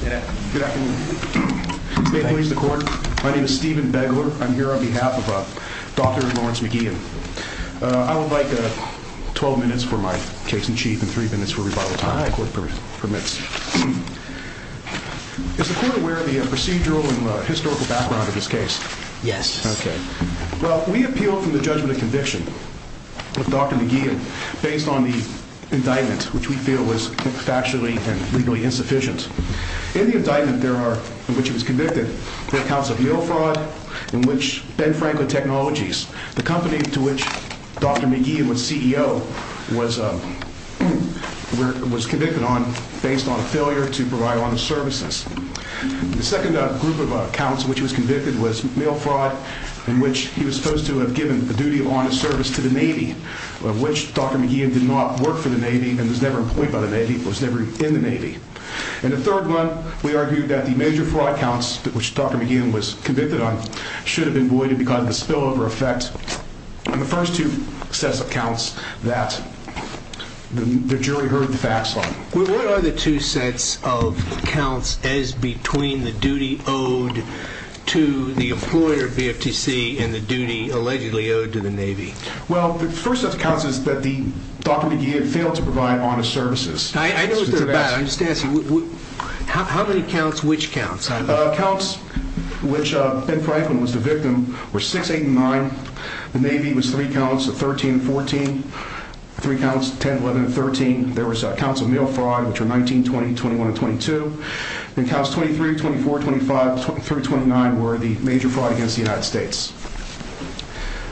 Good afternoon. My name is Stephen Begler. I'm here on behalf of Dr. Lawrence Mc Gehan. I would like 12 minutes for my case in chief and three minutes for rebuttal time, if the court permits. Is the court aware of the procedural and historical background of this case? Yes. Okay. Well, we appealed from the judgment of conviction with Dr. Mc Gehan based on the indictment, which we feel was factually and legally insufficient. In the indictment there are, in which he was convicted, the accounts of mail fraud, in which Ben Franklin Technologies, the company to which Dr. Mc Gehan was CEO, was convicted on based on a failure to provide honest services. The second group of accounts in which he was convicted was mail fraud, in which he was supposed to have given the duty of honest service to the Navy, of which Dr. Mc Gehan did not work for the Navy and was never employed by the Navy, was never in the Navy. And the third one, we argued that the major fraud counts, which Dr. Mc Gehan was convicted on, should have been voided because of the spillover effect on the first two sets of accounts that the jury heard the facts on. What are the two sets of accounts as between the duty owed to the employer, BFTC, and the duty allegedly owed to the Navy? Well, the first set of accounts is that Dr. Mc Gehan failed to provide honest services. I know what they're about. I'm just asking, how many counts, which counts? Counts, which Ben Franklin was the victim, were 6, 8, and 9. The Navy was three counts, 13 and 14. Three counts, 10, 11, and 13. There were accounts of mail fraud, which were 19, 20, 21, and 22. And accounts 23, 24, 25, through 29 were the major fraud against the United States.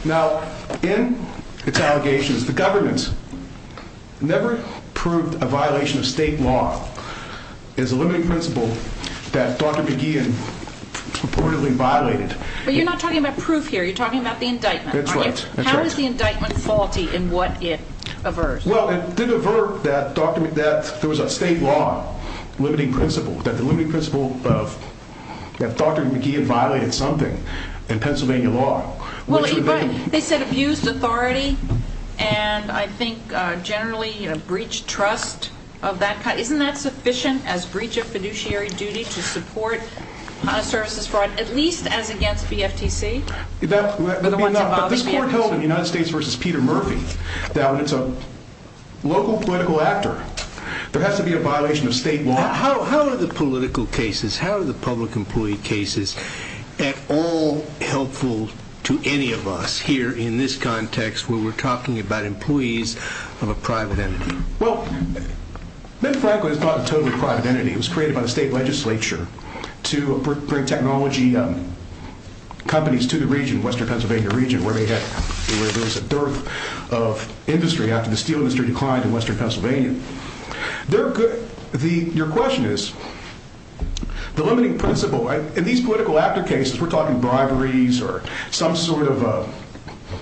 Now, in its allegations, the government never proved a violation of state law as a limiting principle that Dr. Mc Gehan purportedly violated. But you're not talking about proof here. You're talking about the indictment. That's right. How is the indictment faulty in what it averts? Well, it did avert that there was a state law limiting principle, that the limiting principle that Dr. Mc Gehan violated something in Pennsylvania law. Well, you're right. They said abused authority, and I think generally breached trust of that kind. Isn't that sufficient as breach of fiduciary duty to support honest services fraud, at least as against BFTC? But this court held in United States v. Peter Murphy that when it's a local political actor, there has to be a violation of state law. How are the political cases, how are the public employee cases at all helpful to any of us here in this context where we're talking about employees of a private entity? Well, Ben Franklin is not a totally private entity. It was created by the state legislature to bring technology companies to the region, western Pennsylvania region, where there was a dearth of industry after the steel industry declined in western Pennsylvania. Your question is, the limiting principle, in these political actor cases, we're talking briberies or some sort of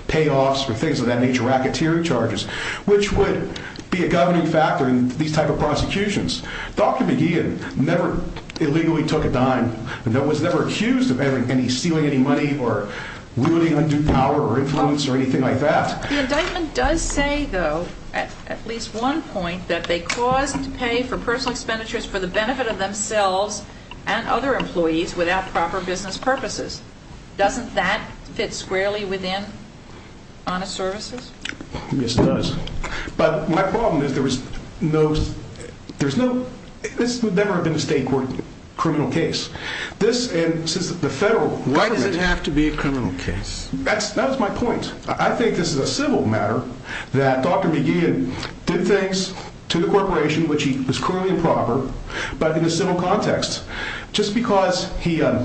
payoffs or things of that nature, racketeering charges, which would be a governing factor in these type of prosecutions. Dr. Mc Gehan never illegally took a dime and was never accused of stealing any money or wielding undue power or influence or anything like that. The indictment does say, though, at least one point, that they caused pay for personal expenditures for the benefit of themselves and other employees without proper business purposes. Doesn't that fit squarely within honest services? Yes, it does. But my problem is there was no, there's no, this would never have been a state court criminal case. This, and since the federal government Why does it have to be a criminal case? That's, that was my point. I think this is a civil matter that Dr. McGehan did things to the corporation, which he was cruelly improper, but in a civil context, just because he, let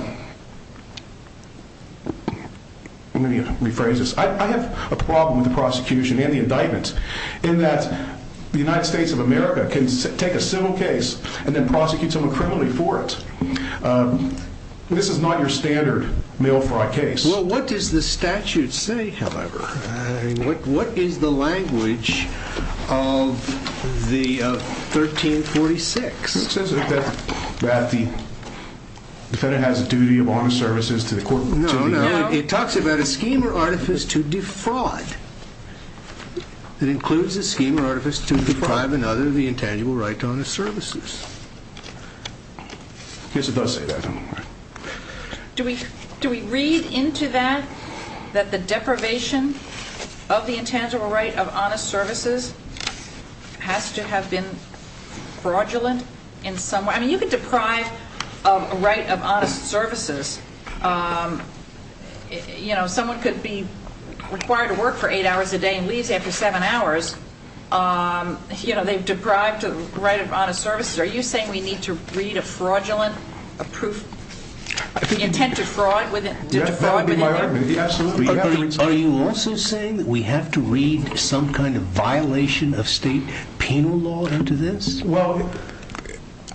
me rephrase this. I have a problem with the prosecution and the indictment in that the United States of America can take a civil case and then prosecute someone criminally for it. This is not your standard mail fraud case. Well, what does the statute say, however? What is the language of the 1346? It says that the defendant has a duty of honest services to the court. No, no. It talks about a scheme or artifice to defraud. It includes a scheme or artifice to deprive another of the intangible right to honest services. I guess it does say that. Do we, do we read into that, that the deprivation of the intangible right of honest services has to have been fraudulent in some way? I mean, you could deprive of a right of honest services. You know, someone could be required to work for eight hours a day and leave after seven hours. You know, they've deprived of the right of honest services. Are you saying we need to read a fraudulent, a proof, intent to fraud within there? Yes, that would be my argument, yes. Are you also saying that we have to read some kind of violation of state penal law into this? Well,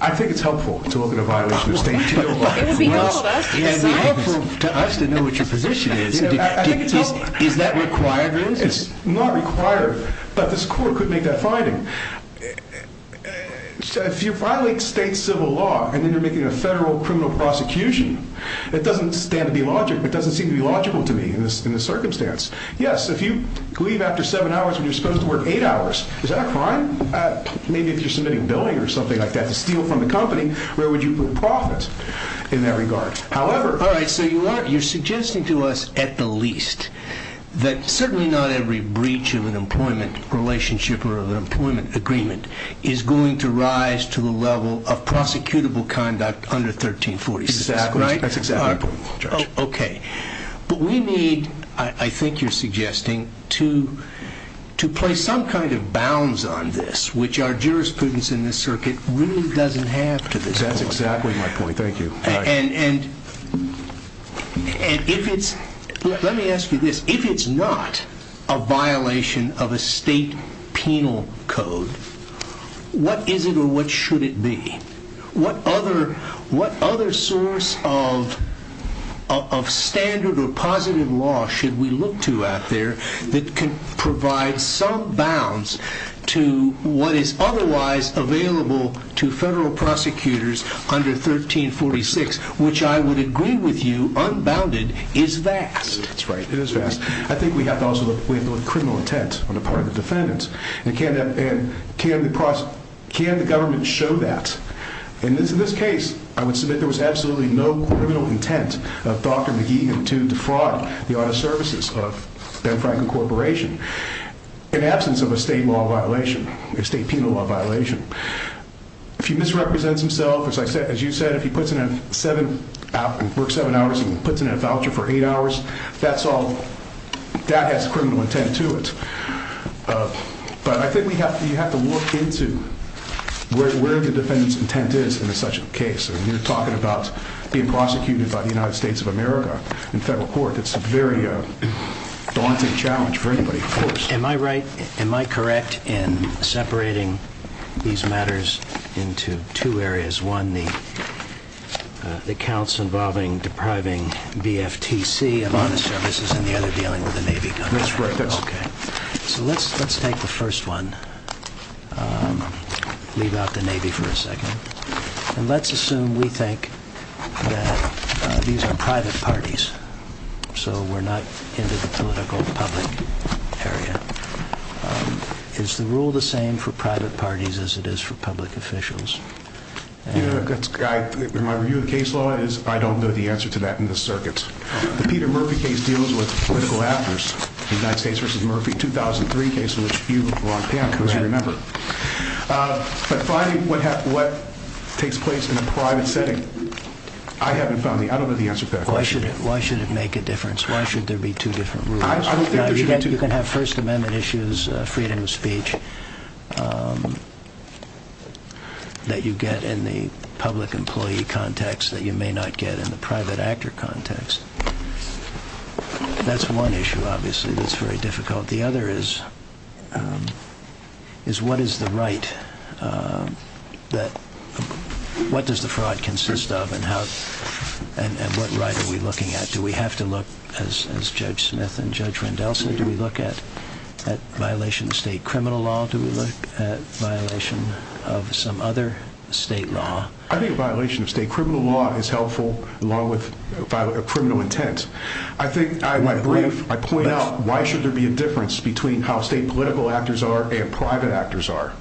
I think it's helpful to look at a violation of state penal law. It would be helpful to us to know what your position is. Is that required? It's not required, but this court could make that finding. If you violate state civil law and then you're making a federal criminal prosecution, it doesn't stand to be logical, it doesn't seem to be logical to me in this circumstance. Yes, if you leave after seven hours when you're supposed to work eight hours, is that a crime? Maybe if you're submitting billing or something like that to steal from the company, where would you put profit in that regard? All right, so you're suggesting to us, at the least, that certainly not every breach of an employment relationship or of an employment agreement is going to rise to the level of prosecutable conduct under 1346. Exactly, that's exactly the point, Judge. Okay, but we need, I think you're suggesting, to place some kind of bounds on this, which our jurisprudence in this circuit really doesn't have to this point. That's exactly my point, thank you. Let me ask you this, if it's not a violation of a state penal code, what is it or what should it be? What other source of standard or positive law should we look to out there that can provide some bounds to what is otherwise available to federal prosecutors under 1346, which I would agree with you, unbounded, is vast. I think we have to look at criminal intent on the part of the defendants, and can the government show that? In this case, I would submit there was absolutely no criminal intent of Dr. McGeehan to defraud the auto services of Ben Franklin Corporation in absence of a state penal law violation. If he misrepresents himself, as you said, if he works seven hours and puts in a voucher for eight hours, that has criminal intent to it. But I think we have to look into where the defendant's intent is in such a case. You're talking about being prosecuted by the United States of America in federal court. It's a very daunting challenge for anybody, of course. Am I right? Am I correct in separating these matters into two areas? One, the counts involving depriving BFTC of auto services, and the other dealing with the Navy? That's right. OK. So let's take the first one. Leave out the Navy for a second. And let's assume we think that these are private parties, so we're not into the political public area. Is the rule the same for private parties as it is for public officials? My review of the case law is I don't know the answer to that in this circuit. The Peter Murphy case deals with political actors. The United States v. Murphy 2003 case, of which you belong to, as you remember. But finding what takes place in a private setting, I haven't found the answer to that question. Why should it make a difference? Why should there be two different rules? I don't think there should be two. You can have First Amendment issues, freedom of speech, that you get in the public employee context that you may not get in the private actor context. That's one issue, obviously, that's very difficult. The other is, what does the fraud consist of and what right are we looking at? Do we have to look, as Judge Smith and Judge Rendel said, do we look at violation of state criminal law? Do we look at violation of some other state law? I think violation of state criminal law is helpful, along with criminal intent. I point out, why should there be a difference between how state political actors are and private actors are?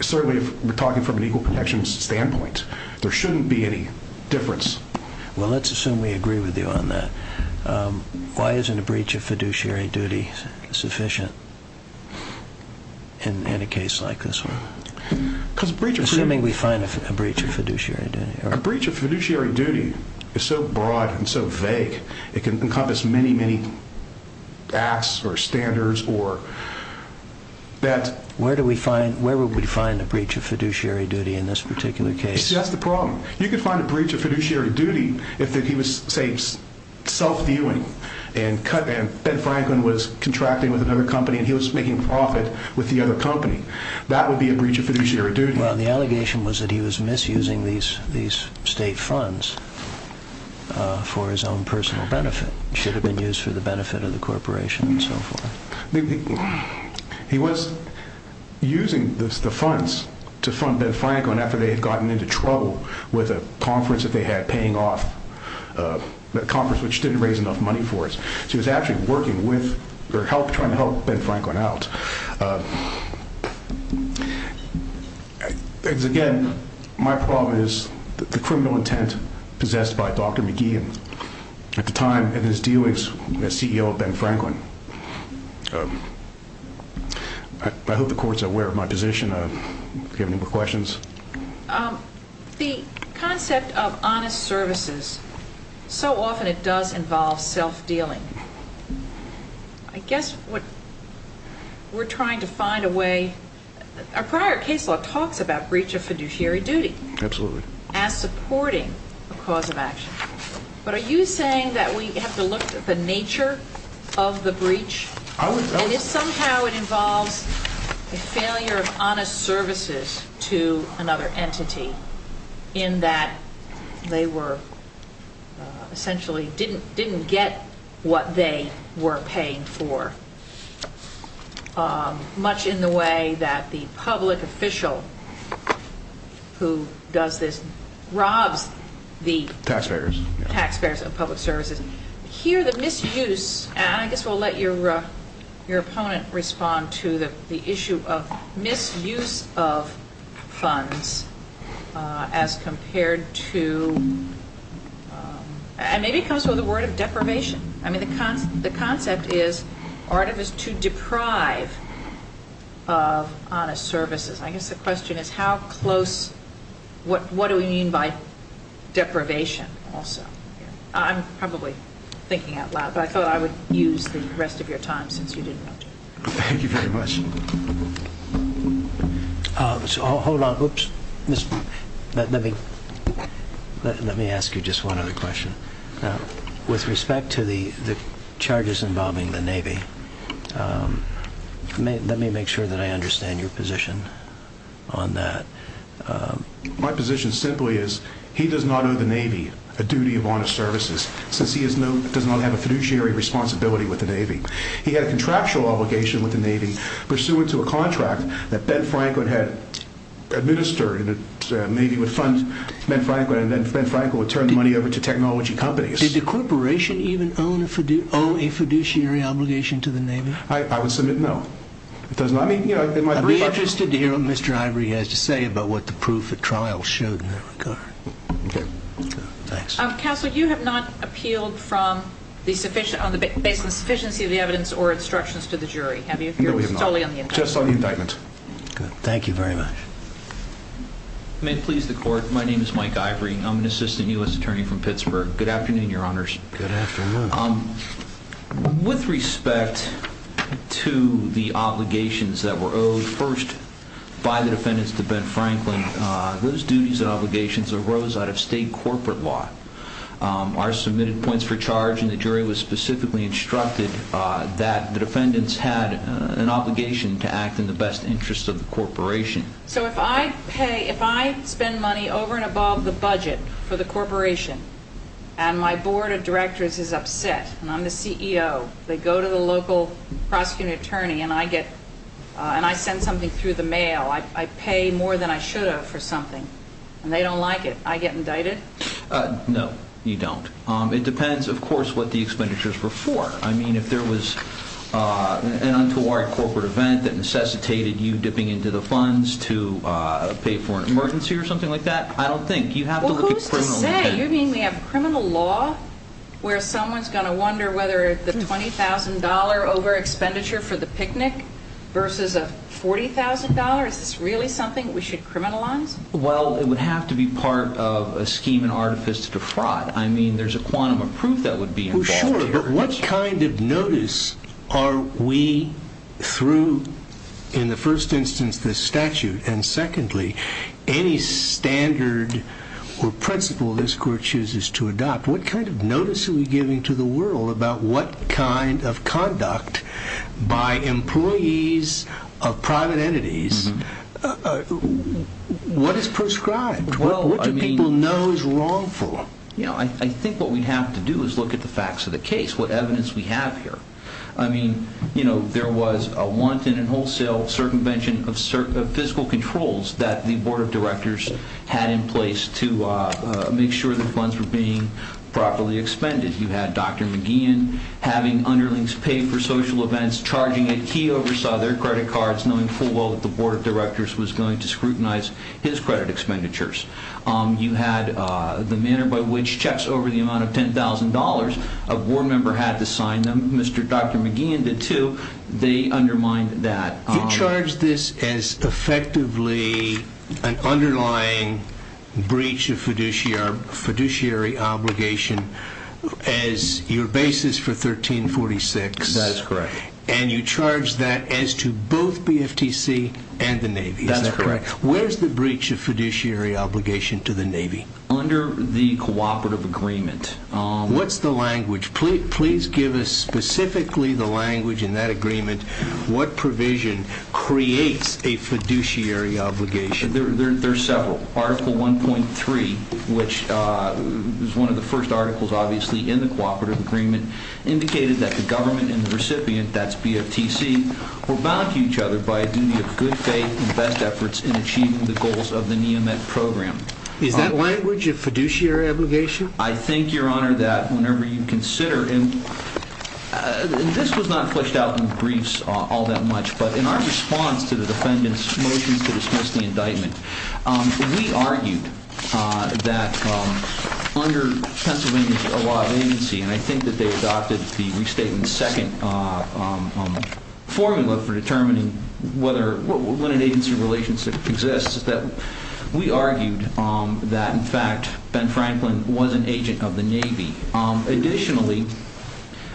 Certainly, if we're talking from an equal protections standpoint, there shouldn't be any difference. Well, let's assume we agree with you on that. Why isn't a breach of fiduciary duty sufficient in a case like this one? Assuming we find a breach of fiduciary duty. A breach of fiduciary duty is so broad and so vague, it can encompass many, many acts or standards. Where would we find a breach of fiduciary duty in this particular case? That's the problem. You could find a breach of fiduciary duty if he was, say, self-viewing and Ben Franklin was contracting with another company and he was making profit with the other company. That would be a breach of fiduciary duty. Well, the allegation was that he was misusing these state funds for his own personal benefit. It should have been used for the benefit of the corporation and so forth. He was using the funds to fund Ben Franklin after they had gotten into trouble with a conference that they had paying off, a conference which didn't raise enough money for it. He was actually working with or trying to help Ben Franklin out. Again, my problem is the criminal intent possessed by Dr. McGee at the time of his dealings as CEO of Ben Franklin. I hope the Court is aware of my position. Do you have any more questions? The concept of honest services, so often it does involve self-dealing. I guess what we're trying to find a way – our prior case law talks about breach of fiduciary duty. Absolutely. As supporting a cause of action. But are you saying that we have to look at the nature of the breach? I would note – And if somehow it involves a failure of honest services to another entity in that they were essentially – didn't get what they were paying for much in the way that the public official who does this robs the – Taxpayers. Taxpayers of public services. Here the misuse – and I guess we'll let your opponent respond to the issue of misuse of funds as compared to – and maybe it comes from the word of deprivation. I mean, the concept is artifice to deprive of honest services. I guess the question is how close – what do we mean by deprivation also? I'm probably thinking out loud, but I thought I would use the rest of your time since you didn't want to. Thank you very much. Hold on. Oops. Let me ask you just one other question. With respect to the charges involving the Navy, let me make sure that I understand your position on that. My position simply is he does not owe the Navy a duty of honest services since he does not have a fiduciary responsibility with the Navy. He had a contractual obligation with the Navy pursuant to a contract that Ben Franklin had administered. The Navy would fund Ben Franklin, and then Ben Franklin would turn the money over to technology companies. Did the corporation even owe a fiduciary obligation to the Navy? I would submit no. I'd be interested to hear what Mr. Ivory has to say about what the proof at trial showed in that regard. Okay. Thanks. Counsel, you have not appealed based on the sufficiency of the evidence or instructions to the jury, have you? No, we have not. Just on the indictment. Good. Thank you very much. May it please the Court, my name is Mike Ivory. I'm an assistant U.S. attorney from Pittsburgh. Good afternoon, Your Honors. Good afternoon. With respect to the obligations that were owed first by the defendants to Ben Franklin, those duties and obligations arose out of state corporate law. Our submitted points for charge in the jury was specifically instructed that the defendants had an obligation to act in the best interest of the corporation. So if I pay, if I spend money over and above the budget for the corporation, and my board of directors is upset, and I'm the CEO, they go to the local prosecuting attorney and I get, and I send something through the mail, I pay more than I should have for something, and they don't like it, I get indicted? No, you don't. It depends, of course, what the expenditures were for. I mean, if there was an untoward corporate event that necessitated you dipping into the funds to pay for an emergency or something like that, I don't think. Well, who's to say? You mean we have criminal law where someone's going to wonder whether the $20,000 over expenditure for the picnic versus a $40,000? Is this really something we should criminalize? Well, it would have to be part of a scheme and artifice to defraud. I mean, there's a quantum of proof that would be involved here. What kind of notice are we through, in the first instance, the statute, and secondly, any standard or principle this court chooses to adopt? What kind of notice are we giving to the world about what kind of conduct by employees of private entities, what is prescribed? What do people know is wrongful? I think what we'd have to do is look at the facts of the case, what evidence we have here. I mean, there was a wanton and wholesale circumvention of physical controls that the Board of Directors had in place to make sure the funds were being properly expended. You had Dr. McGeehan having underlings pay for social events, charging it. He oversaw their credit cards, knowing full well that the Board of Directors was going to scrutinize his credit expenditures. You had the manner by which checks over the amount of $10,000 a board member had to sign them. Dr. McGeehan did too. They undermined that. You charged this as effectively an underlying breach of fiduciary obligation as your basis for 1346. That is correct. And you charged that as to both BFTC and the Navy. That's correct. Where's the breach of fiduciary obligation to the Navy? Under the cooperative agreement. What's the language? Please give us specifically the language in that agreement. What provision creates a fiduciary obligation? There are several. Article 1.3, which is one of the first articles, obviously, in the cooperative agreement, indicated that the government and the recipient, that's BFTC, were bound to each other by a duty of good faith and best efforts in achieving the goals of the NEAMET program. Is that language a fiduciary obligation? I think, Your Honor, that whenever you consider it, and this was not fleshed out in briefs all that much, but in our response to the defendant's motion to dismiss the indictment, we argued that under Pennsylvania's law of agency, and I think that they adopted the restatement second formula for determining when an agency relationship exists, that we argued that, in fact, Ben Franklin was an agent of the Navy. Additionally,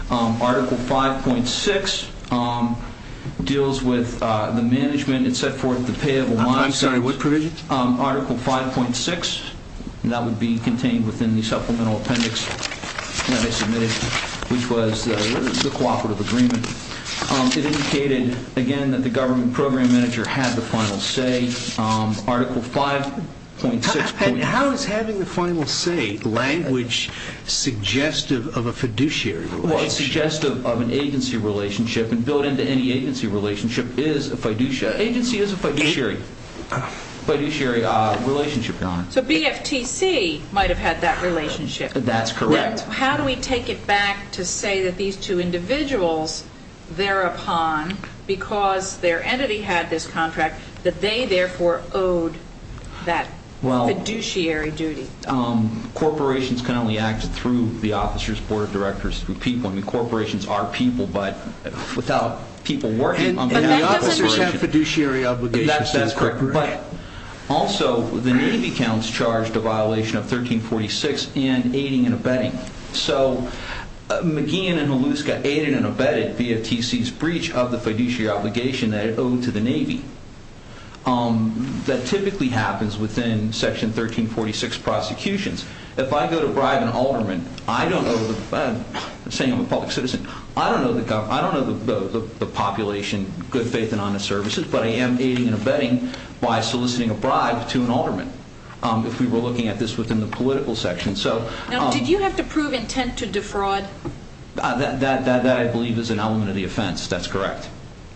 Article 5.6 deals with the management, et cetera, of the payable losses. I'm sorry, what provision? Article 5.6, and that would be contained within the supplemental appendix that I submitted, which was the cooperative agreement. It indicated, again, that the government program manager had the final say. Article 5.6. How is having the final say language suggestive of a fiduciary relationship? Well, it's suggestive of an agency relationship, and built into any agency relationship is a fiduciary. Agency is a fiduciary relationship, Your Honor. So BFTC might have had that relationship. That's correct. Now, how do we take it back to say that these two individuals thereupon, because their entity had this contract, that they therefore owed that fiduciary duty? Corporations can only act through the officers, board of directors, through people. I mean, corporations are people, but without people working on the corporation. And the officers have fiduciary obligations. That's correct. But also, the Navy counts charged a violation of 1346 in aiding and abetting. So McGeehan and Halluska aided and abetted BFTC's breach of the fiduciary obligation that it owed to the Navy. That typically happens within Section 1346 prosecutions. If I go to bribe an alderman, saying I'm a public citizen, I don't know the population, good faith and honest services, but I am aiding and abetting by soliciting a bribe to an alderman if we were looking at this within the political section. Now, did you have to prove intent to defraud? That, I believe, is an element of the offense. That's correct.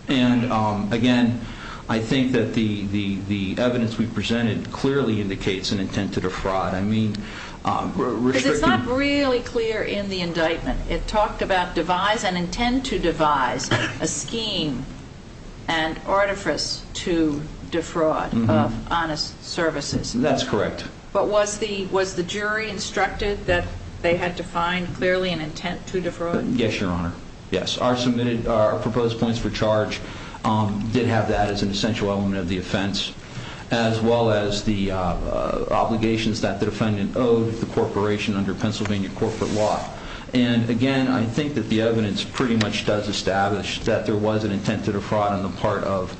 And, again, I think that the evidence we presented clearly indicates an intent to defraud. I mean, restricting- Because it's not really clear in the indictment. It talked about devise and intend to devise a scheme and artifice to defraud of honest services. That's correct. But was the jury instructed that they had to find clearly an intent to defraud? Yes, Your Honor. Yes, our proposed points for charge did have that as an essential element of the offense, as well as the obligations that the defendant owed the corporation under Pennsylvania corporate law. And, again, I think that the evidence pretty much does establish that there was an intent to defraud on the part of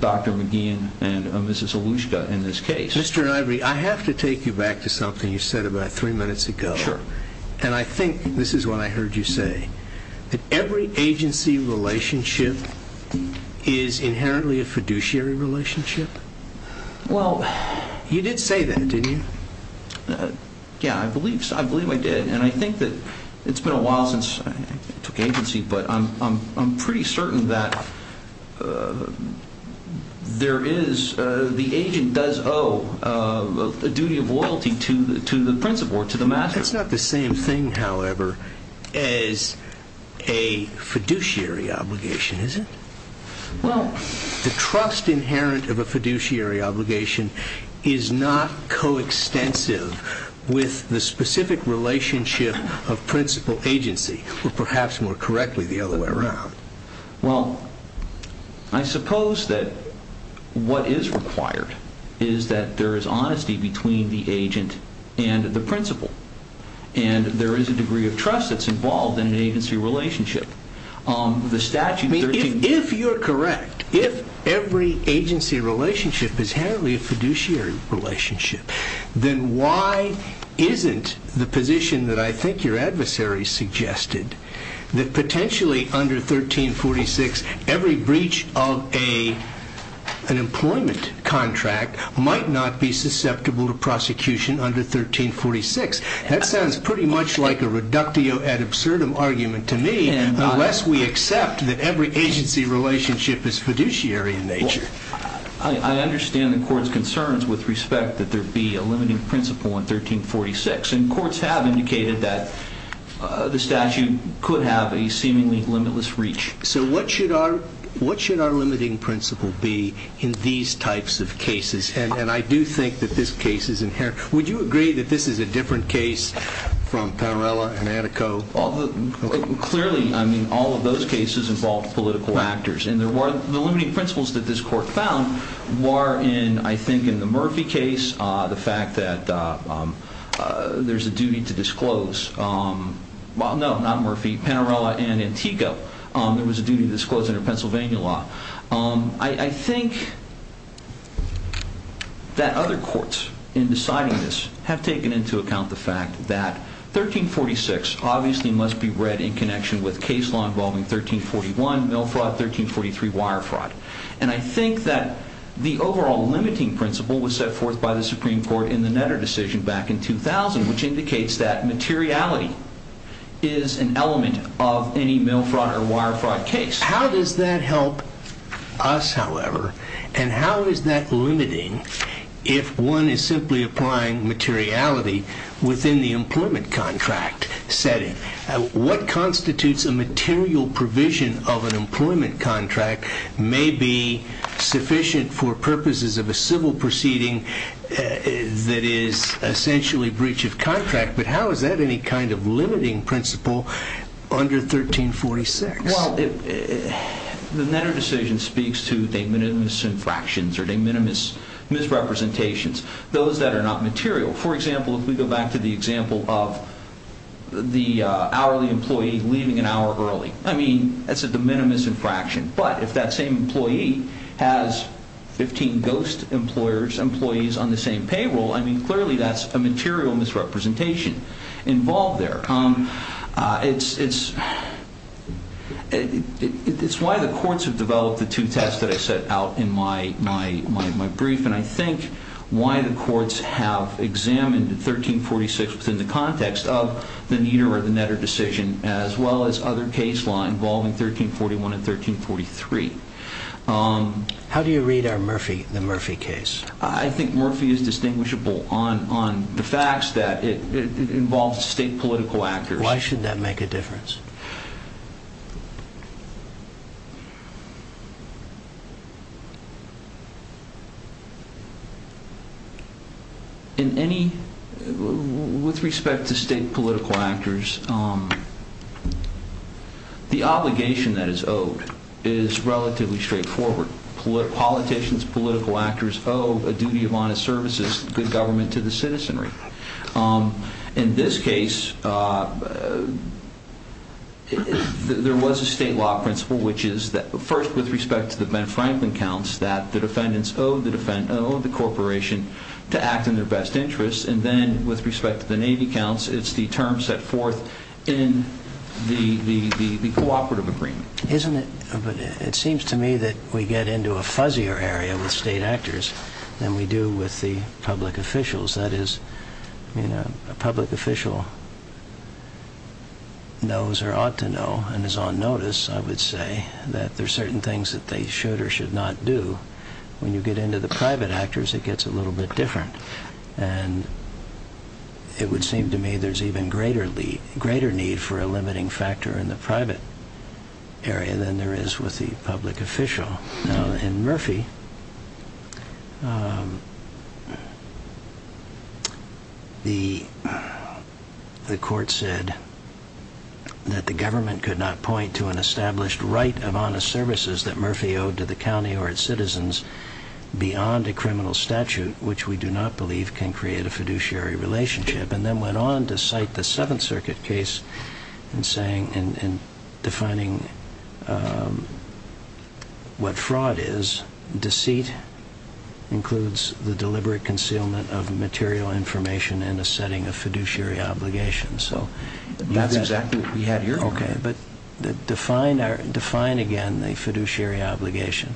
Dr. McGeehan and Mrs. Olushka in this case. Mr. Ivery, I have to take you back to something you said about three minutes ago. Sure. And I think this is what I heard you say, that every agency relationship is inherently a fiduciary relationship. Well- You did say that, didn't you? Yeah, I believe I did. And I think that it's been a while since I took agency, but I'm pretty certain that there is- the agent does owe a duty of loyalty to the principal or to the master. That's not the same thing, however, as a fiduciary obligation, is it? Well- The trust inherent of a fiduciary obligation is not coextensive with the specific relationship of principal agency, or perhaps more correctly, the other way around. Well, I suppose that what is required is that there is honesty between the agent and the principal, and there is a degree of trust that's involved in an agency relationship. The statute- every breach of an employment contract might not be susceptible to prosecution under 1346. That sounds pretty much like a reductio ad absurdum argument to me, unless we accept that every agency relationship is fiduciary in nature. I understand the court's concerns with respect that there be a limiting principal in 1346, and courts have indicated that the statute could have a seemingly limitless reach. So what should our limiting principal be in these types of cases? And I do think that this case is inherent. Would you agree that this is a different case from Parrella and Antico? Clearly, I mean, all of those cases involved political actors, and the limiting principles that this court found were in, I think, in the Murphy case, the fact that there's a duty to disclose- well, no, not Murphy, Parrella and Antico, there was a duty to disclose under Pennsylvania law. I think that other courts, in deciding this, have taken into account the fact that 1346 obviously must be read in connection with case law involving 1341 mill fraud, 1343 wire fraud. And I think that the overall limiting principle was set forth by the Supreme Court in the Netter decision back in 2000, which indicates that materiality is an element of any mill fraud or wire fraud case. How does that help us, however, and how is that limiting if one is simply applying materiality within the employment contract setting? What constitutes a material provision of an employment contract may be sufficient for purposes of a civil proceeding that is essentially breach of contract, but how is that any kind of limiting principle under 1346? Well, the Netter decision speaks to de minimis infractions or de minimis misrepresentations, those that are not material. For example, if we go back to the example of the hourly employee leaving an hour early, I mean, that's a de minimis infraction. But if that same employee has 15 ghost employees on the same payroll, I mean, clearly that's a material misrepresentation involved there. It's why the courts have developed the two tests that I set out in my brief, and I think why the courts have examined 1346 within the context of the Netter decision as well as other case law involving 1341 and 1343. How do you read the Murphy case? I think Murphy is distinguishable on the facts that it involves state political actors. Why should that make a difference? With respect to state political actors, the obligation that is owed is relatively straightforward. Politicians, political actors owe a duty of honest services, good government to the citizenry. In this case, there was a state law principle, which is that first, with respect to the Ben Franklin counts, that the defendants owe the corporation to act in their best interest. And then, with respect to the Navy counts, it's the term set forth in the cooperative agreement. It seems to me that we get into a fuzzier area with state actors than we do with the public officials. That is, a public official knows or ought to know and is on notice, I would say, that there are certain things that they should or should not do. When you get into the private actors, it gets a little bit different. It would seem to me there's even greater need for a limiting factor in the private area than there is with the public official. In Murphy, the court said that the government could not point to an established right of honest services that Murphy owed to the county or its citizens beyond a criminal statute, which we do not believe can create a fiduciary relationship. And then went on to cite the Seventh Circuit case in defining what fraud is. Deceit includes the deliberate concealment of material information in a setting of fiduciary obligations. That's exactly what we had here. Okay, but define again the fiduciary obligation,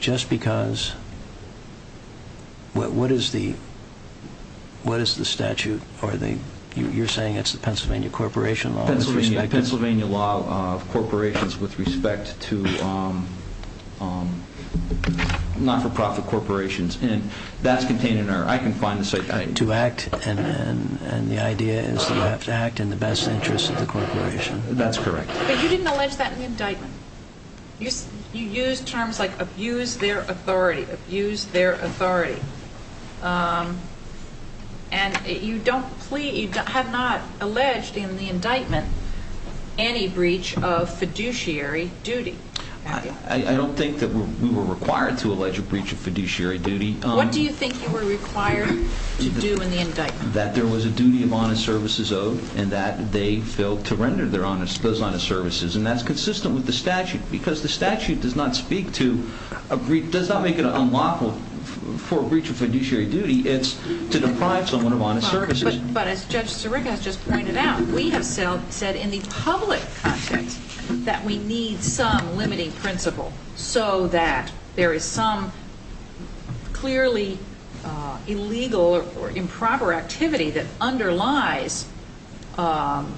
just because what is the statute? You're saying it's the Pennsylvania corporation law? Pennsylvania law of corporations with respect to not-for-profit corporations, and that's contained in our... To act, and the idea is that you have to act in the best interest of the corporation. That's correct. But you didn't allege that in the indictment. You used terms like abuse their authority, abuse their authority, and you have not alleged in the indictment any breach of fiduciary duty. I don't think that we were required to allege a breach of fiduciary duty. What do you think you were required to do in the indictment? That there was a duty of honest services owed, and that they failed to render those honest services. And that's consistent with the statute, because the statute does not make it unlawful for a breach of fiduciary duty. It's to deprive someone of honest services. But as Judge Sirica has just pointed out, we have said in the public context that we need some limiting principle, so that there is some clearly illegal or improper activity that underlies what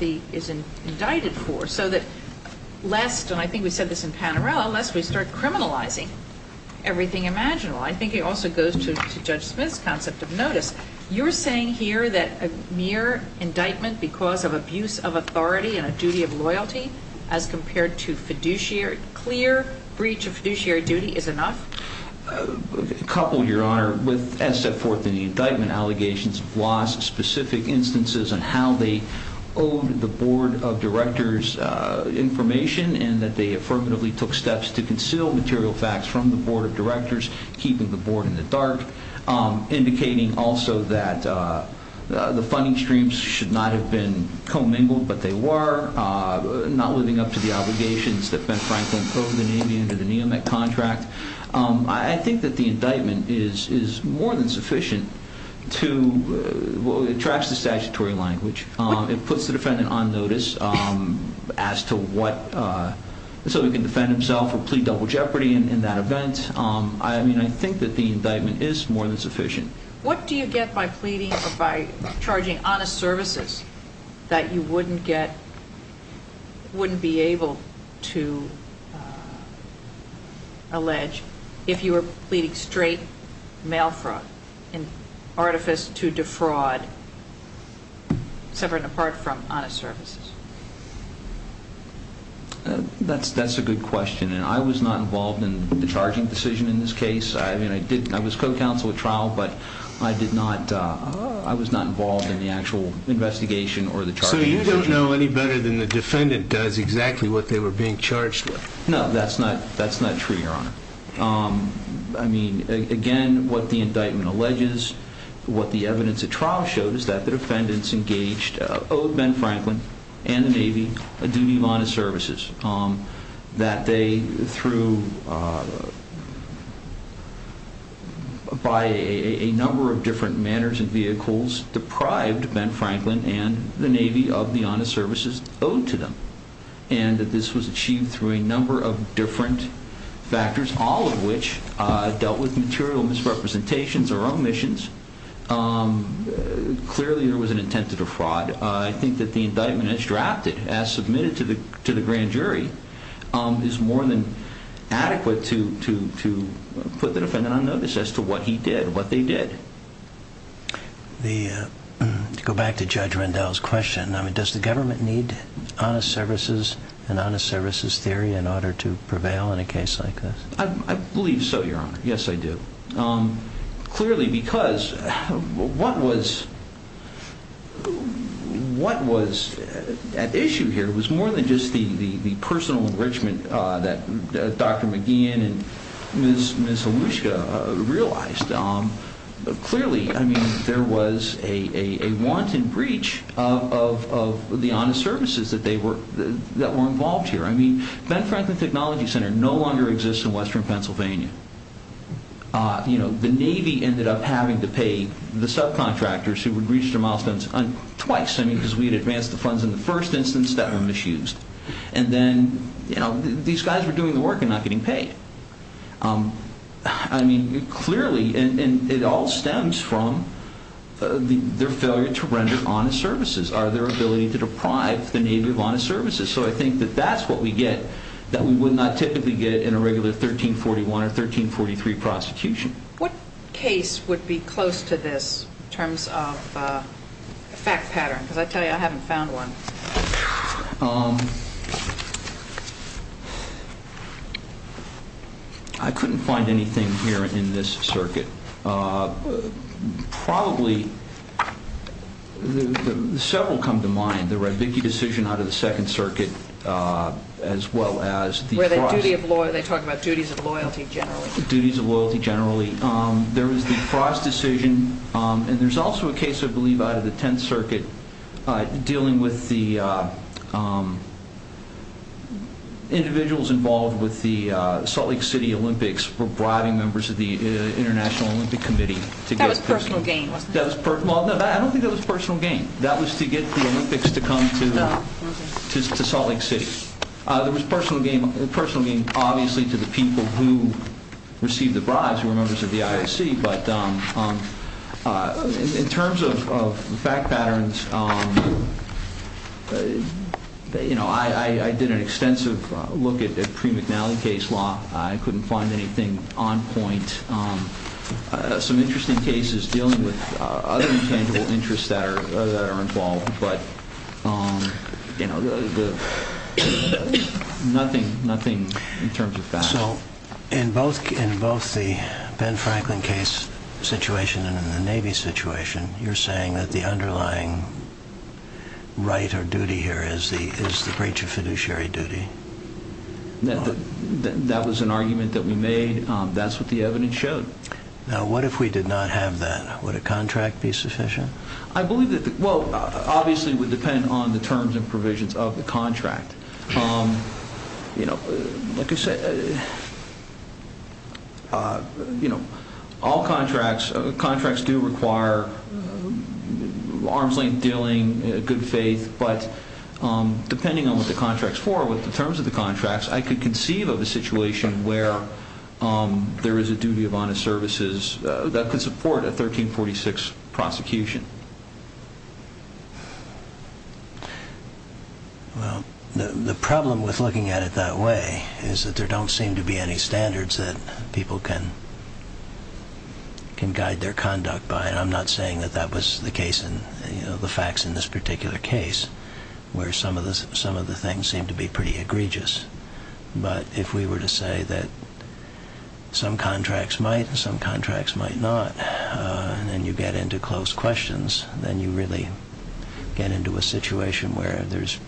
is indicted for, so that lest, and I think we said this in Panarello, lest we start criminalizing everything imaginable. I think it also goes to Judge Smith's concept of notice. You're saying here that a mere indictment because of abuse of authority and a duty of loyalty, as compared to clear breach of fiduciary duty, is enough? A couple, Your Honor. As set forth in the indictment, allegations of loss, specific instances on how they owed the Board of Directors information, and that they affirmatively took steps to conceal material facts from the Board of Directors, keeping the Board in the dark, indicating also that the funding streams should not have been commingled, but they were, not living up to the obligations that Ben Franklin owed the Navy under the NEOMEC contract. I think that the indictment is more than sufficient to, well, it tracks the statutory language. What? It puts the defendant on notice as to what, so he can defend himself or plead double jeopardy in that event. I mean, I think that the indictment is more than sufficient. What do you get by pleading or by charging honest services that you wouldn't get, wouldn't be able to allege if you were pleading straight mail fraud and artifice to defraud, separate and apart from honest services? That's a good question, and I was not involved in the charging decision in this case. I mean, I was co-counsel at trial, but I did not, I was not involved in the actual investigation or the charging decision. So you don't know any better than the defendant does exactly what they were being charged with? No, that's not true, Your Honor. I mean, again, what the indictment alleges, what the evidence at trial showed, is that the defendants engaged, owed Ben Franklin and the Navy a duty of honest services. That they, through, by a number of different manners and vehicles, deprived Ben Franklin and the Navy of the honest services owed to them. And that this was achieved through a number of different factors, all of which dealt with material misrepresentations or omissions. Clearly, there was an intent to defraud. I think that the indictment, as drafted, as submitted to the grand jury, is more than adequate to put the defendant on notice as to what he did, what they did. To go back to Judge Rendell's question, does the government need honest services and honest services theory in order to prevail in a case like this? I believe so, Your Honor. Yes, I do. Clearly, because what was at issue here was more than just the personal enrichment that Dr. McGeehan and Ms. Olushka realized. Clearly, there was a wanton breach of the honest services that were involved here. Ben Franklin Technology Center no longer exists in western Pennsylvania. The Navy ended up having to pay the subcontractors who had reached their milestones twice, because we had advanced the funds in the first instance that were misused. And then these guys were doing the work and not getting paid. Clearly, it all stems from their failure to render honest services, or their ability to deprive the Navy of honest services. So I think that that's what we get that we would not typically get in a regular 1341 or 1343 prosecution. What case would be close to this in terms of a fact pattern? Because I tell you, I haven't found one. I couldn't find anything here in this circuit. Probably, several come to mind. There were a big decision out of the Second Circuit, as well as the Frost. They talk about duties of loyalty, generally. Duties of loyalty, generally. There was the Frost decision. And there's also a case, I believe, out of the Tenth Circuit, dealing with the individuals involved with the Salt Lake City Olympics for bribing members of the International Olympic Committee. That was personal gain, wasn't it? I don't think that was personal gain. That was to get the Olympics to come to Salt Lake City. There was personal gain, obviously, to the people who received the bribes, who were members of the IOC. But in terms of fact patterns, I did an extensive look at the Pre-McNally case law. I couldn't find anything on point. Some interesting cases dealing with other intangible interests that are involved, but nothing in terms of fact. So, in both the Ben Franklin case situation and in the Navy situation, you're saying that the underlying right or duty here is the breach of fiduciary duty? That was an argument that we made. That's what the evidence showed. Now, what if we did not have that? Would a contract be sufficient? Well, obviously it would depend on the terms and provisions of the contract. All contracts do require arm's length dealing, good faith, but depending on what the contract is for, with the terms of the contracts, I could conceive of a situation where there is a duty of honest services that could support a 1346 prosecution. Well, the problem with looking at it that way is that there don't seem to be any standards that people can guide their conduct by, and I'm not saying that that was the case in the facts in this particular case, where some of the things seem to be pretty egregious. But if we were to say that some contracts might and some contracts might not, and then you get into close questions, then you really get into a situation where there's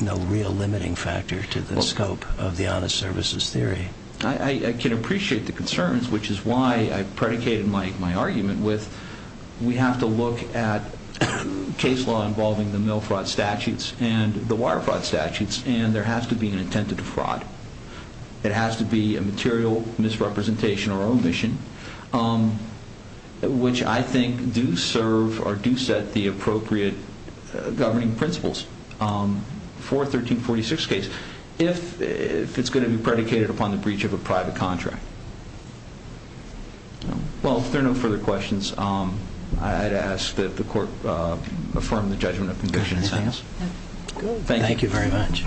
no real limiting factor to the scope of the honest services theory. I can appreciate the concerns, which is why I predicated my argument with We have to look at case law involving the mill fraud statutes and the wire fraud statutes, and there has to be an intent to defraud. It has to be a material misrepresentation or omission, which I think do serve or do set the appropriate governing principles for a 1346 case if it's going to be predicated upon the breach of a private contract. Well, if there are no further questions, I'd ask that the court affirm the judgment of the condition in this case. Thank you very much.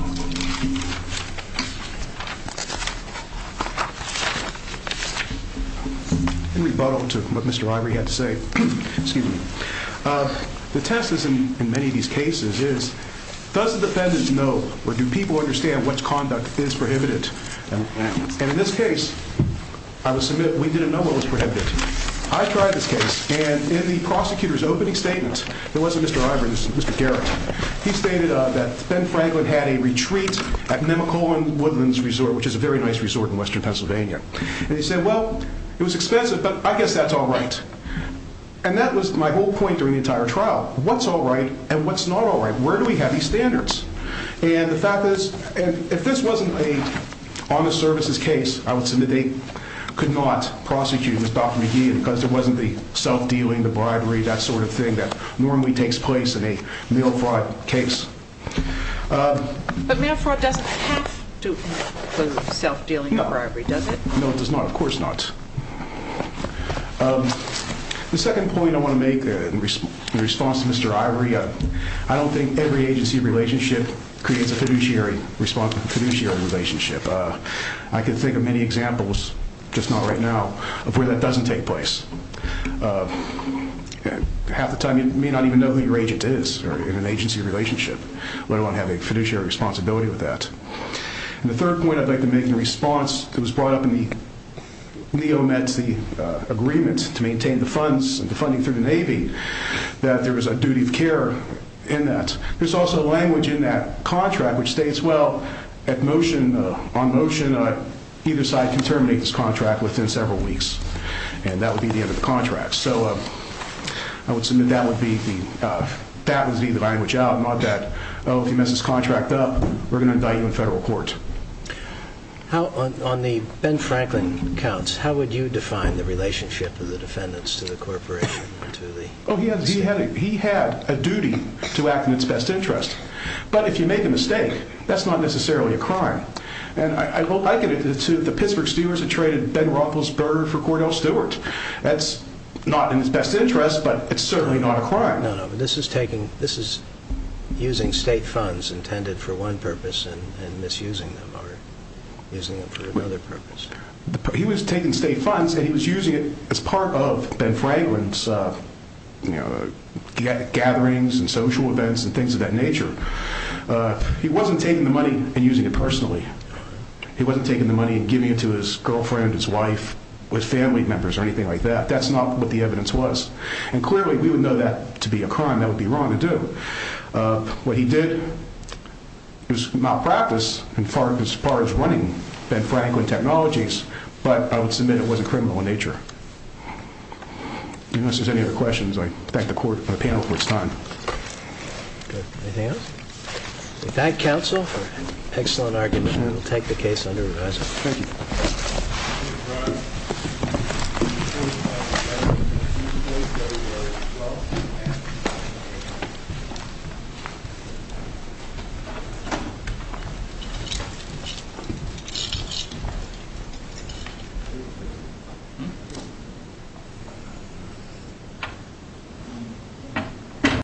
In rebuttal to what Mr. Ivery had to say, the test in many of these cases is, does the defendant know or do people understand which conduct is prohibited? And in this case, I will submit, we didn't know what was prohibited. I tried this case, and in the prosecutor's opening statement, it wasn't Mr. Ivery, it was Mr. Garrett, he stated that Ben Franklin had a retreat at Mimicola Woodlands Resort, which is a very nice resort in western Pennsylvania. And he said, well, it was expensive, but I guess that's all right. And that was my whole point during the entire trial. What's all right and what's not all right? Where do we have these standards? And the fact is, if this wasn't an honest services case, I would submit they could not prosecute Mr. McGee because there wasn't the self-dealing, the bribery, that sort of thing that normally takes place in a mail fraud case. But mail fraud doesn't have to include self-dealing or bribery, does it? No, it does not. Of course not. The second point I want to make in response to Mr. Ivery, I don't think every agency relationship creates a fiduciary relationship. I can think of many examples, just not right now, of where that doesn't take place. Half the time you may not even know who your agent is in an agency relationship. Why do I want to have a fiduciary responsibility with that? And the third point I'd like to make in response, it was brought up in the neo-Nazi agreement to maintain the funds and the funding through the Navy, that there was a duty of care in that. There's also language in that contract which states, well, on motion, either side can terminate this contract within several weeks. And that would be the end of the contract. So I would submit that would be the language out, not that, oh, if you mess this contract up, we're going to indict you in federal court. On the Ben Franklin counts, how would you define the relationship of the defendants to the corporation? Oh, he had a duty to act in its best interest. But if you make a mistake, that's not necessarily a crime. And I liken it to the Pittsburgh Stewards that traded Ben Roethlisberger for Cordell Stewart. That's not in its best interest, but it's certainly not a crime. No, no, this is using state funds intended for one purpose and misusing them or using them for another purpose. He was taking state funds and he was using it as part of Ben Franklin's gatherings and social events and things of that nature. He wasn't taking the money and using it personally. He wasn't taking the money and giving it to his girlfriend, his wife, his family members or anything like that. That's not what the evidence was. And clearly we would know that to be a crime. That would be wrong to do. What he did was malpractice as far as running Ben Franklin Technologies, but I would submit it wasn't criminal in nature. Unless there's any other questions, I thank the panel for its time. Good. Anything else? We thank counsel for an excellent argument. We'll take the case under revising. Thank you. Thank you.